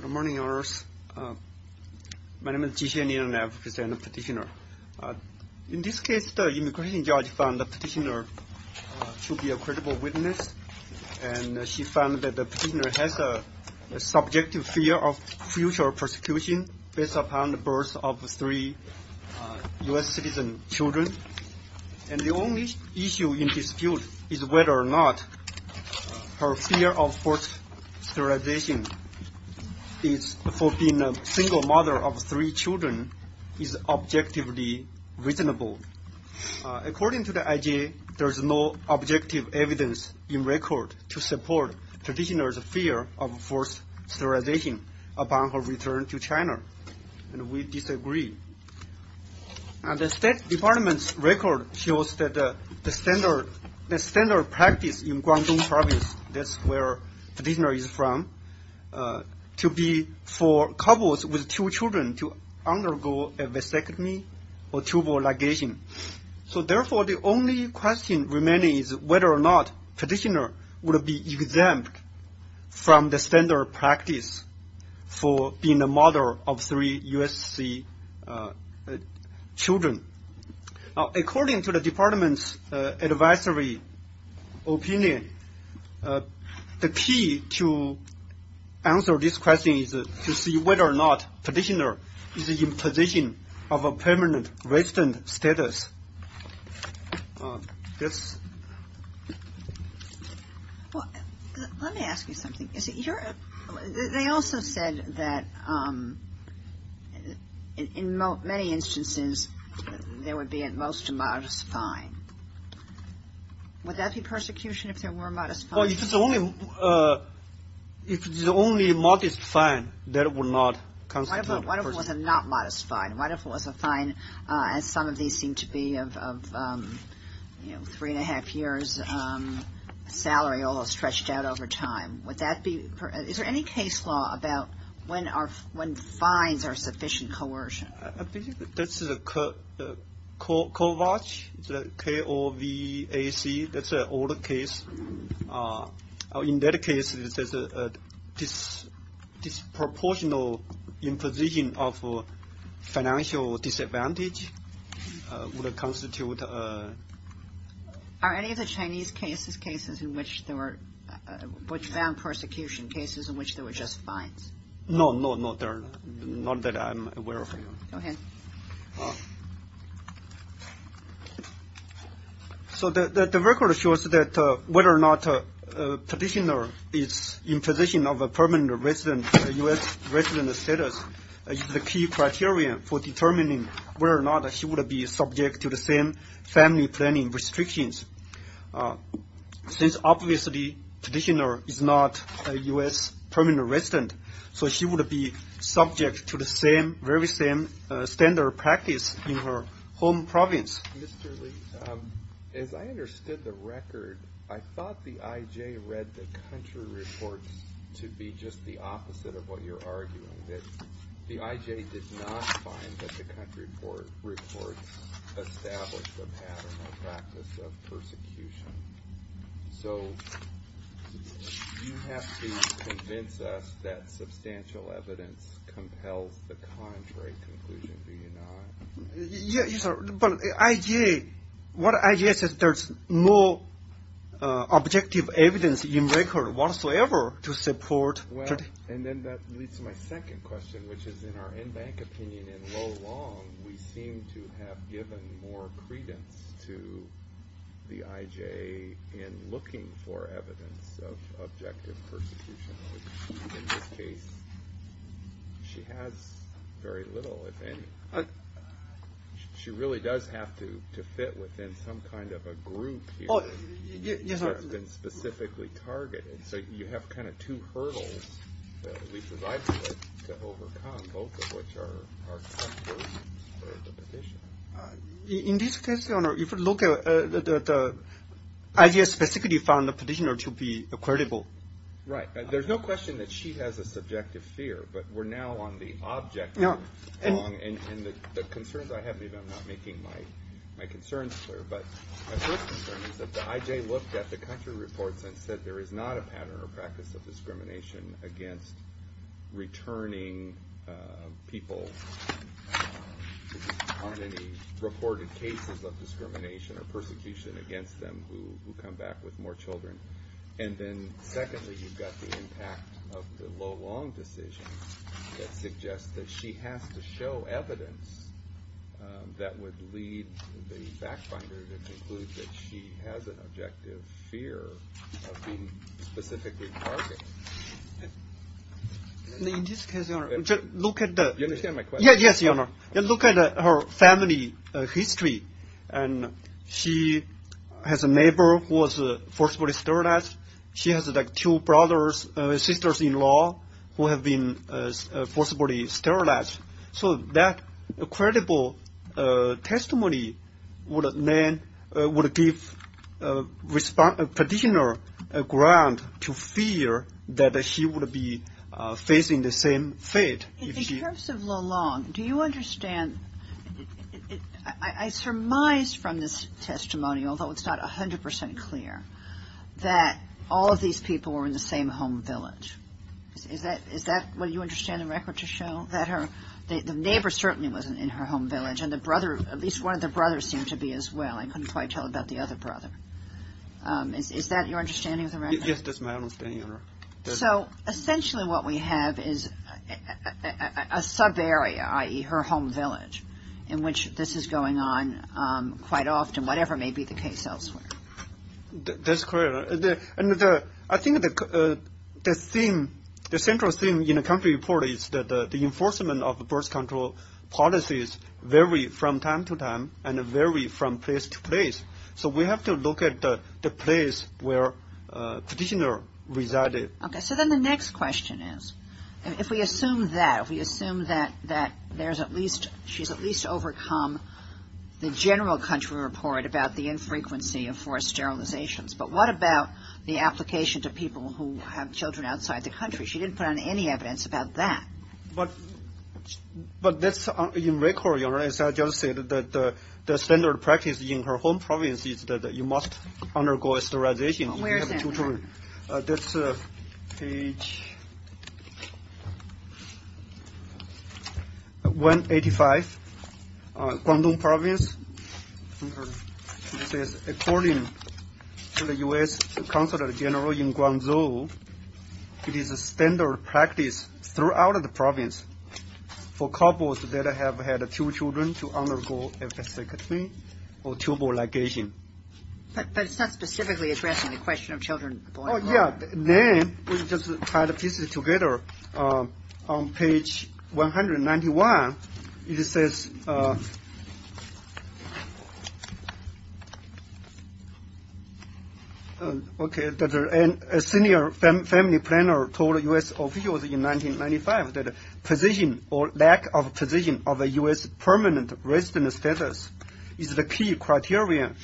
Good morning Your Honors. My name is Ji-Hsien Lian and I represent the petitioner. In this case, the immigration judge found the petitioner to be a credible witness and she found that the petitioner has a subjective fear of future prosecution based upon the birth of three U.S. citizen children and the only issue in dispute is whether or not her fear of forced sterilization for being a single mother of three children is objectively reasonable. According to the IG, there is no objective evidence in record to support the petitioner's fear of forced sterilization upon her return to China, and we disagree. The State Department's record shows that the standard practice in Guangdong province, that's where the petitioner is from, to be for couples with two children to undergo a vasectomy or tubal ligation. Therefore, the only question remaining is whether or not the petitioner would be exempt from the standard practice for being a mother of three U.S. citizen children. According to the Department's advisory opinion, the key to answer this question is to see whether or not the petitioner is in a position of permanent resident status. This... Well, let me ask you something. They also said that in many instances, there would be at most a modest fine. Would that be persecution if there were a modest fine? Well, if it's only a modest fine, that would not constitute persecution. What if it was a not modest fine? What if it was a fine, as some of these seem to be, of three and a half years' salary, all stretched out over time? Is there any case law about when fines are sufficient coercion? I think that's Kovach, K-O-V-A-C. That's an old case. In that case, there's a disproportional imposition of financial disadvantage would constitute... Are any of the Chinese cases cases in which there were... which found persecution cases in which there were just fines? No, no, not that I'm aware of. Go ahead. So the record shows that whether or not a petitioner is in position of a permanent resident, a U.S. resident status, is the key criterion for determining whether or not she would be subject to the same family planning restrictions. Since obviously petitioner is not a U.S. permanent resident, so she would be subject to the same, very same standard practice in her home province. Mr. Li, as I understood the record, I thought the I.J. read the country reports to be just the opposite of what you're arguing, that the I.J. did not find that the country reports established the pattern or practice of persecution. So you have to convince us that substantial evidence compels the contrary conclusion, do you not? But I.J., what I.J. says, there's no objective evidence in record whatsoever to support... Well, and then that leads to my second question, which is in our in-bank opinion, in Lo Long, we seem to have given more credence to the I.J. in looking for evidence of objective persecution. In this case, she has very little, if any. She really does have to fit within some kind of a group here that's been specifically targeted. So you have kind of two hurdles that we provide to overcome, both of which are... In this case, Your Honor, if you look at the I.J. specifically found the petitioner to be credible. Right. There's no question that she has a subjective fear, but we're now on the objective. And the concerns I have, maybe I'm not making my concerns clear, but my first concern is that the I.J. looked at the country reports and said there is not a pattern or practice of discrimination against returning people on any reported cases of discrimination or persecution against them who come back with more children. And then secondly, you've got the impact of the Lo Long decision that suggests that she has to show evidence that would lead the back finder to conclude that she has an objective fear of being specifically targeted. In this case, Your Honor, look at the... You understand my question? Yes, Your Honor. Look at her family history and she has a neighbor who was forcibly sterilized. She has two brothers and sisters-in-law who have been forcibly sterilized. So that credible testimony would give petitioner a ground to fear that she would be facing the same fate. In terms of Lo Long, do you understand, I surmised from this testimony, although it's not 100 percent clear, that all of these people were in the same home village. Is that what you understand the record to show? That the neighbor certainly wasn't in her home village and the brother, at least one of the brothers, seemed to be as well. I couldn't quite tell about the other brother. Is that your understanding of the record? Yes, that's my understanding, Your Honor. So essentially what we have is a subarea, i.e., her home village, in which this is going on quite often, whatever may be the case elsewhere. That's correct. And I think the central theme in the country report is that the enforcement of birth control policies vary from time to time and vary from place to place. So we have to look at the place where petitioner resided. Okay, so then the next question is, if we assume that, if we assume that there's at least, she's at least overcome the general country report about the infrequency of forced sterilizations, but what about the application to people who have children outside the country? She didn't put on any evidence about that. But that's in record, Your Honor, as I just said, that the standard practice in her home province is that you must undergo sterilization. Where is it? That's page 185, Guangdong Province. It says, according to the U.S. Consulate General in Guangzhou, it is a standard practice throughout the province for couples that have had two children to undergo a vasectomy or tubal ligation. But it's not specifically addressing the question of children born abroad. Oh, yeah. And then we just tied the pieces together on page 191. It says, okay, a senior family planner told U.S. officials in 1995 that position or lack of position of a U.S. permanent resident status is the key criterion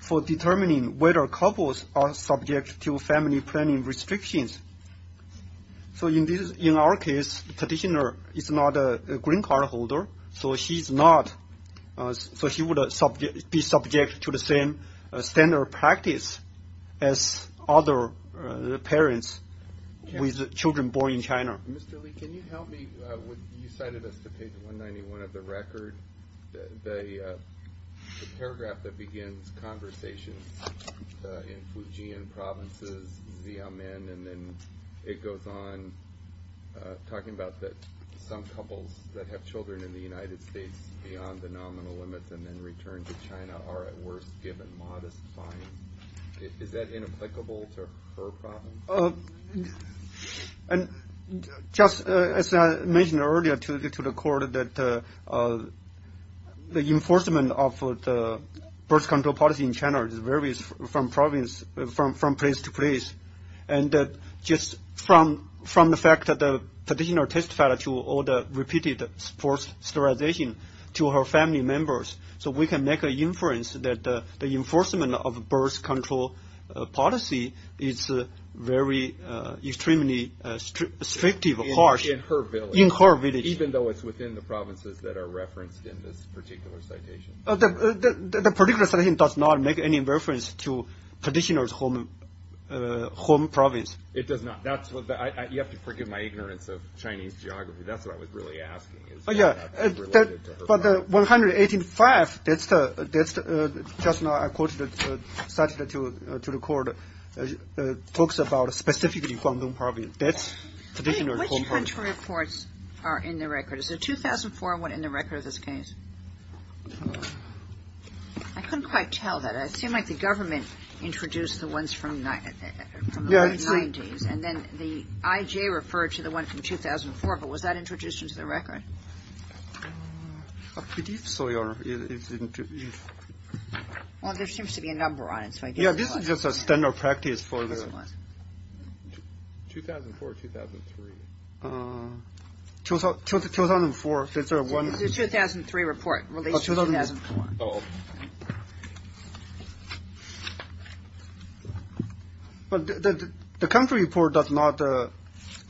for determining whether couples are subject to family planning restrictions. So in our case, the petitioner is not a green card holder, so she would be subject to the same standard practice as other parents with children born in China. Mr. Li, can you help me? You cited us to page 191 of the record. The paragraph that begins conversations in Fujian provinces, and then it goes on talking about some couples that have children in the United States beyond the nominal limits and then return to China are at worst given modest fines. Is that inapplicable to her province? Just as I mentioned earlier to the court, the enforcement of birth control policy in China varies from place to place. And just from the fact that the petitioner testified to all the repeated forced sterilization to her family members, so we can make an inference that the enforcement of birth control policy is very extremely restrictive or harsh in her village. Even though it's within the provinces that are referenced in this particular citation. The particular citation does not make any reference to petitioner's home province. It does not. You have to forgive my ignorance of Chinese geography. That's what I was really asking. But the 185 that's just now cited to the court talks about specifically Guangdong province. Which country reports are in the record? Is the 2004 one in the record of this case? I couldn't quite tell that. It seemed like the government introduced the ones from the late 90s, and then the IJ referred to the one from 2004. But was that introduced into the record? I believe so, Your Honor. Well, there seems to be a number on it. Yeah, this is just a standard practice for the. 2004 or 2003? 2004. It's a 2003 report released in 2004. But the country report does not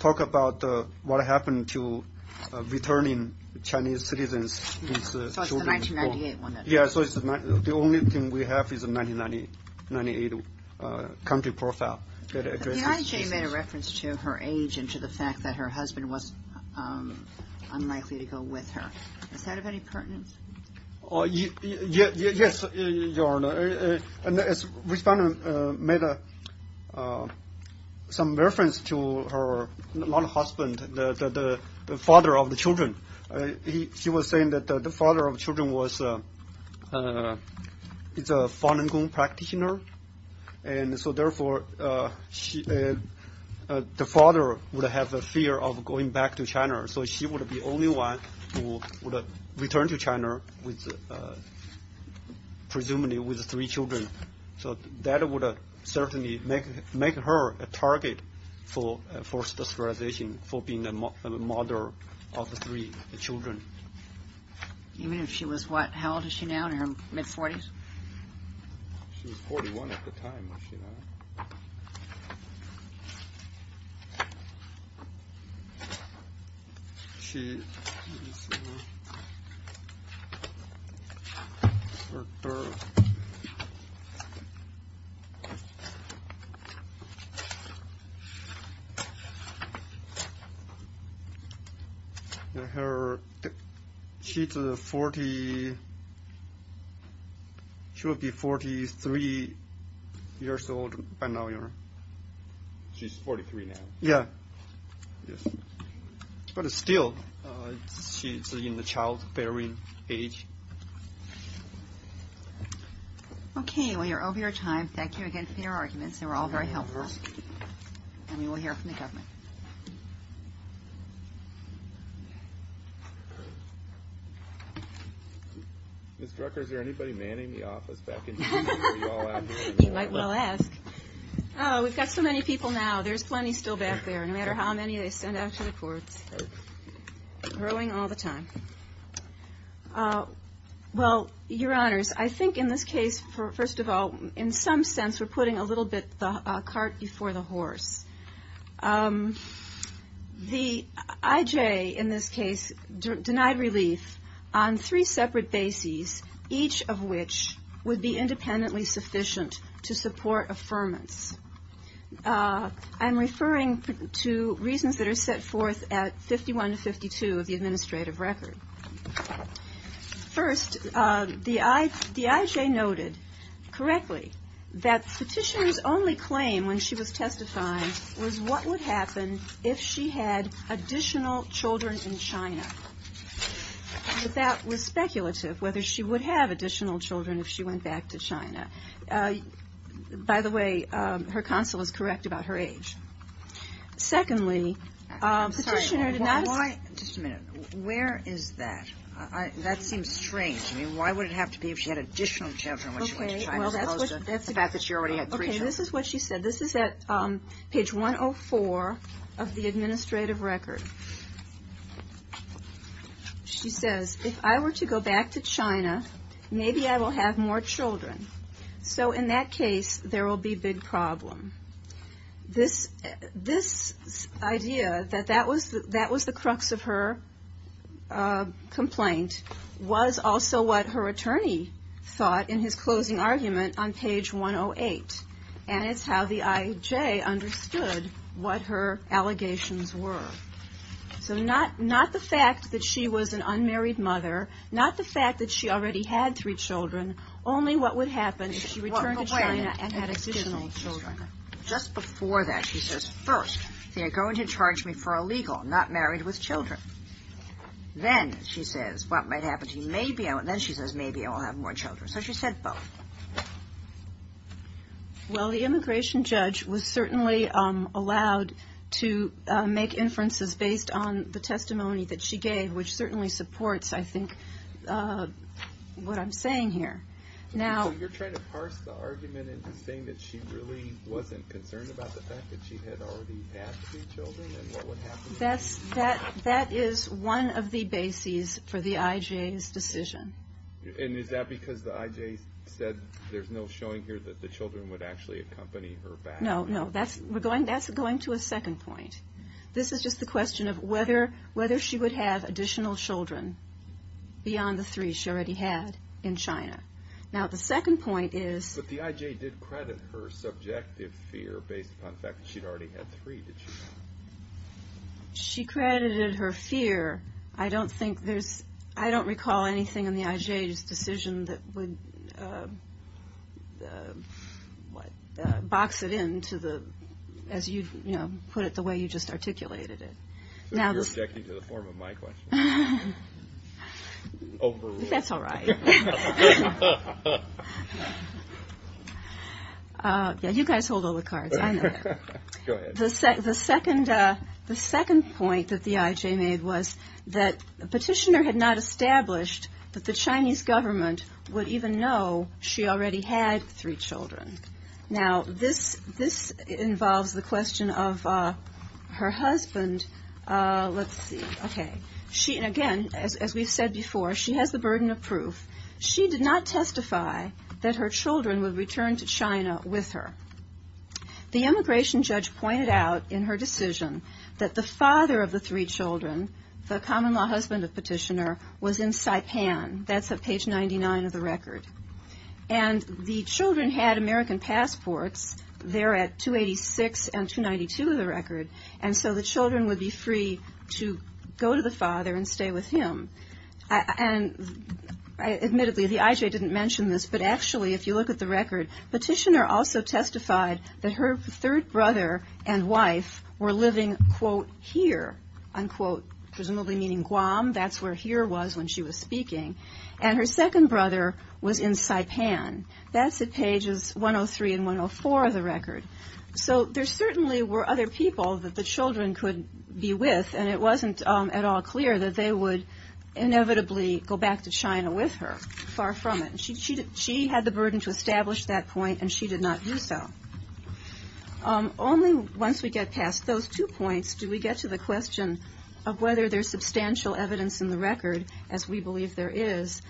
talk about what happened to returning Chinese citizens. So it's the 1998 one. Yeah, so the only thing we have is a 1998 country profile. The IJ made a reference to her age and to the fact that her husband was unlikely to go with her. Is that of any pertinence? Yes, Your Honor. Respondent made some reference to her husband, the father of the children. She was saying that the father of children was a Falun Gong practitioner, and so therefore the father would have a fear of going back to China. So she would be the only one who would return to China, presumably with three children. So that would certainly make her a target for sterilization, for being a mother of three children. Even if she was what? How old is she now, in her mid-40s? She was 41 at the time, was she not? Let me see here. Her daughter. She's 40. She would be 43 years old by now, Your Honor. She's 43 now? Yeah. Yes. But still, she's in the childbearing age. Okay, well you're over your time. Thank you again for your arguments. They were all very helpful. And we will hear from the government. Ms. Drucker, is there anybody manning the office back in China? You might well ask. Oh, we've got so many people now. There's plenty still back there, no matter how many they send out to the courts. Growing all the time. Well, Your Honors, I think in this case, first of all, in some sense we're putting a little bit of the cart before the horse. The IJ in this case denied relief on three separate bases, each of which would be independently sufficient to support affirmance. I'm referring to reasons that are set forth at 51 to 52 of the administrative record. First, the IJ noted correctly that Petitioner's only claim when she was testifying was what would happen if she had additional children in China. But that was speculative, whether she would have additional children if she went back to China. By the way, her counsel is correct about her age. Secondly, Petitioner did not- Sorry, why- just a minute. Where is that? That seems strange. I mean, why would it have to be if she had additional children when she went to China, as opposed to the fact that she already had three children? Okay, this is what she said. This is at page 104 of the administrative record. She says, if I were to go back to China, maybe I will have more children. So in that case, there will be big problem. This idea that that was the crux of her complaint, was also what her attorney thought in his closing argument on page 108. And it's how the IJ understood what her allegations were. So not the fact that she was an unmarried mother, not the fact that she already had three children, only what would happen if she returned to China and had additional children. Just before that, she says, first, they are going to charge me for illegal, not married with children. Then she says, what might happen to me? Then she says, maybe I will have more children. So she said both. Well, the immigration judge was certainly allowed to make inferences based on the testimony that she gave, which certainly supports, I think, what I'm saying here. So you're trying to parse the argument into saying that she really wasn't concerned about the fact that she had already had three children and what would happen? That is one of the bases for the IJ's decision. And is that because the IJ said there's no showing here that the children would actually accompany her back? No, no. That's going to a second point. This is just the question of whether she would have additional children beyond the three she already had in China. Now, the second point is... But the IJ did credit her subjective fear based upon the fact that she'd already had three, did she not? She credited her fear. I don't think there's... I don't recall anything in the IJ's decision that would box it in to the... as you put it, the way you just articulated it. So you're objecting to the form of my question? Overruled. That's all right. You guys hold all the cards. I know that. Go ahead. The second point that the IJ made was that the petitioner had not established that the Chinese government would even know she already had three children. Now, this involves the question of her husband. Let's see. Okay. Again, as we've said before, she has the burden of proof. She did not testify that her children would return to China with her. The immigration judge pointed out in her decision that the father of the three children, the common-law husband of the petitioner, was in Saipan. That's at page 99 of the record. And the children had American passports. They're at 286 and 292 of the record. And so the children would be free to go to the father and stay with him. And admittedly, the IJ didn't mention this, but actually, if you look at the record, the petitioner also testified that her third brother and wife were living, quote, here, unquote, presumably meaning Guam. That's where here was when she was speaking. And her second brother was in Saipan. That's at pages 103 and 104 of the record. So there certainly were other people that the children could be with, and it wasn't at all clear that they would inevitably go back to China with her. Far from it. She had the burden to establish that point, and she did not do so. Only once we get past those two points do we get to the question of whether there's substantial evidence in the record, as we believe there is,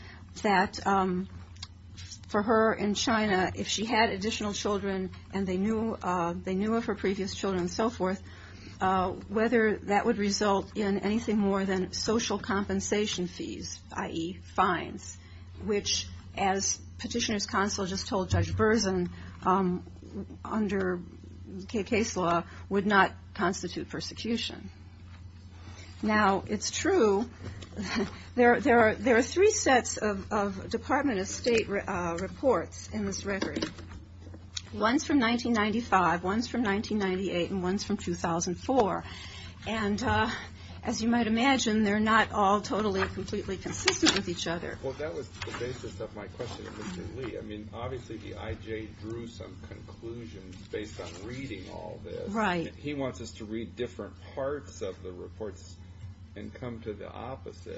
that for her in China, if she had additional children and they knew of her previous children and so forth, whether that would result in anything more than social compensation fees, i.e. fines, which, as Petitioner's Counsel just told Judge Berzin, under case law, would not constitute persecution. Now, it's true, there are three sets of Department of State reports in this record. One's from 1995, one's from 1998, and one's from 2004. And as you might imagine, they're not all totally, completely consistent with each other. Well, that was the basis of my question to Mr. Lee. I mean, obviously the IJ drew some conclusions based on reading all this. Right. He wants us to read different parts of the reports and come to the opposite.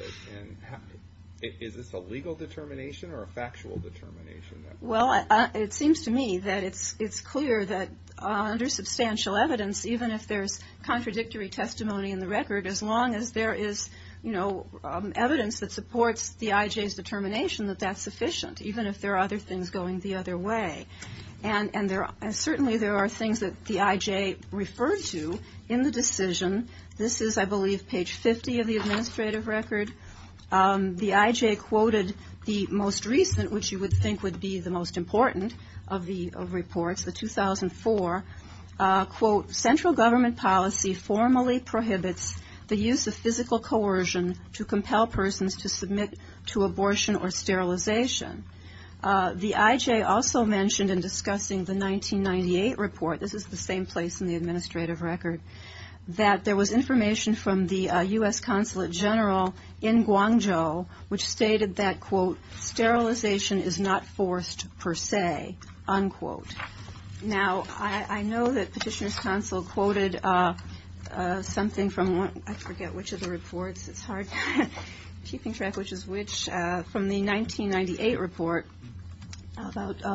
Is this a legal determination or a factual determination? Well, it seems to me that it's clear that under substantial evidence, even if there's contradictory testimony in the record, as long as there is evidence that supports the IJ's determination that that's sufficient, even if there are other things going the other way. And certainly there are things that the IJ referred to in the decision. This is, I believe, page 50 of the administrative record. The IJ quoted the most recent, which you would think would be the most important of reports, the 2004, quote, central government policy formally prohibits the use of physical coercion to compel persons to submit to abortion or sterilization. The IJ also mentioned in discussing the 1998 report, this is the same place in the administrative record, that there was information from the U.S. Consulate General in Guangzhou, which stated that, quote, sterilization is not forced per se, unquote. Now, I know that Petitioner's Consul quoted something from, I forget which of the reports, it's hard to keep track, which is which, from the 1998 report,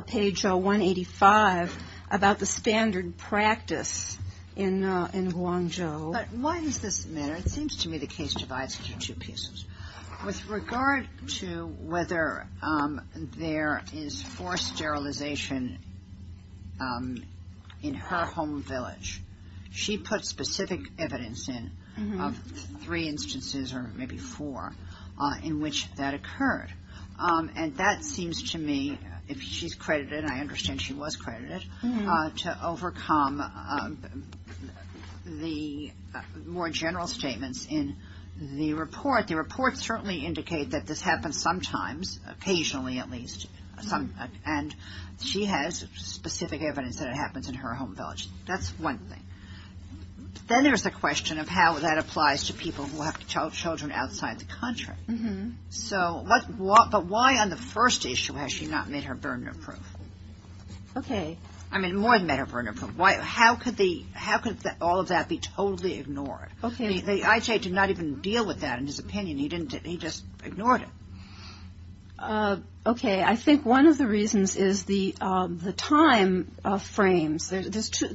page 185, about the standard practice in Guangzhou. But why does this matter? It seems to me the case divides into two pieces. With regard to whether there is forced sterilization in her home village, she puts specific evidence in of three instances, or maybe four, in which that occurred. And that seems to me, if she's credited, I understand she was credited, to overcome the more general statements in the report. The reports certainly indicate that this happens sometimes, occasionally at least, and she has specific evidence that it happens in her home village. That's one thing. Then there's the question of how that applies to people who have children outside the country. But why on the first issue has she not met her burden of proof? I mean, more than met her burden of proof. How could all of that be totally ignored? I.J. did not even deal with that in his opinion. He just ignored it. Okay. I think one of the reasons is the time frames.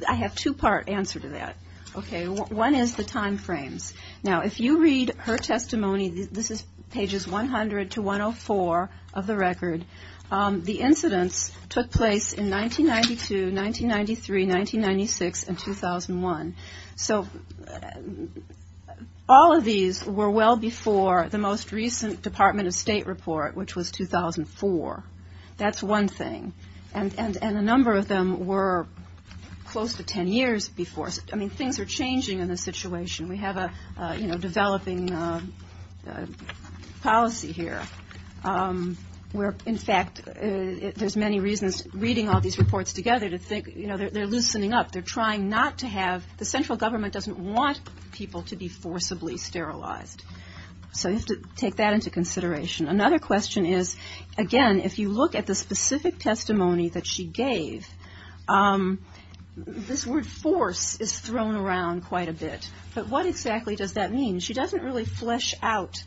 I have two-part answer to that. Okay. One is the time frames. Now, if you read her testimony, this is pages 100 to 104 of the record, the incidents took place in 1992, 1993, 1996, and 2001. So all of these were well before the most recent Department of State report, which was 2004. That's one thing. And a number of them were close to ten years before. I mean, things are changing in this situation. We have a, you know, developing policy here where, in fact, there's many reasons reading all these reports together to think, you know, they're loosening up. They're trying not to have the central government doesn't want people to be forcibly sterilized. So you have to take that into consideration. Another question is, again, if you look at the specific testimony that she gave, this word force is thrown around quite a bit. But what exactly does that mean? She doesn't really flesh out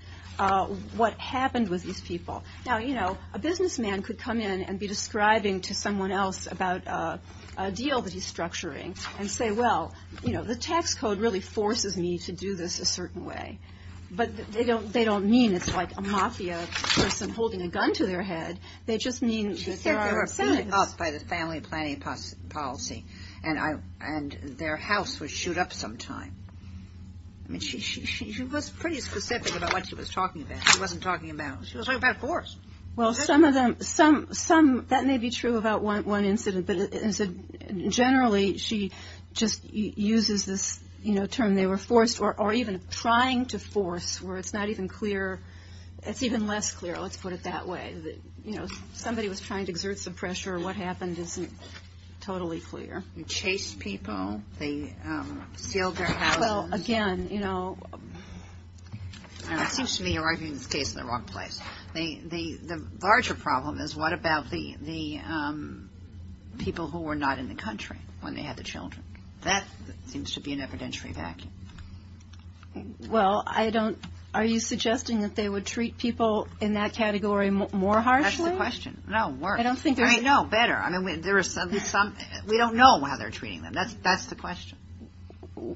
what happened with these people. Now, you know, a businessman could come in and be describing to someone else about a deal that he's structuring and say, well, you know, the tax code really forces me to do this a certain way. But they don't mean it's like a mafia person holding a gun to their head. They just mean that there are things. She said they were put up by the family planning policy, and their house was shoot up sometime. I mean, she was pretty specific about what she was talking about. She was talking about force. Well, some of them, some, that may be true about one incident, but generally she just uses this, you know, term they were forced, or even trying to force, where it's not even clear, it's even less clear, let's put it that way. You know, somebody was trying to exert some pressure. What happened isn't totally clear. They chased people. They sealed their houses. Well, again, you know. It seems to me you're arguing this case in the wrong place. The larger problem is what about the people who were not in the country when they had the children? That seems to be an evidentiary vacuum. Well, I don't, are you suggesting that they would treat people in that category more harshly? That's the question. No, worse. I know, better. I mean, there are some, we don't know how they're treating them. That's the question.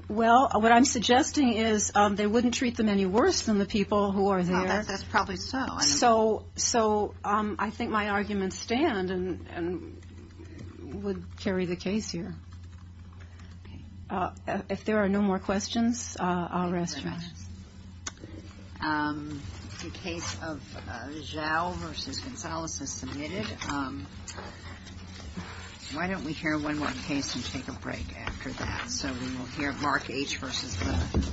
Well, what I'm suggesting is they wouldn't treat them any worse than the people who are there. That's probably so. So I think my arguments stand and would carry the case here. If there are no more questions, I'll rest. The case of Zhao versus Gonzales is submitted. Why don't we hear one more case and take a break after that? So we will hear Mark H. versus. Okay. Okay.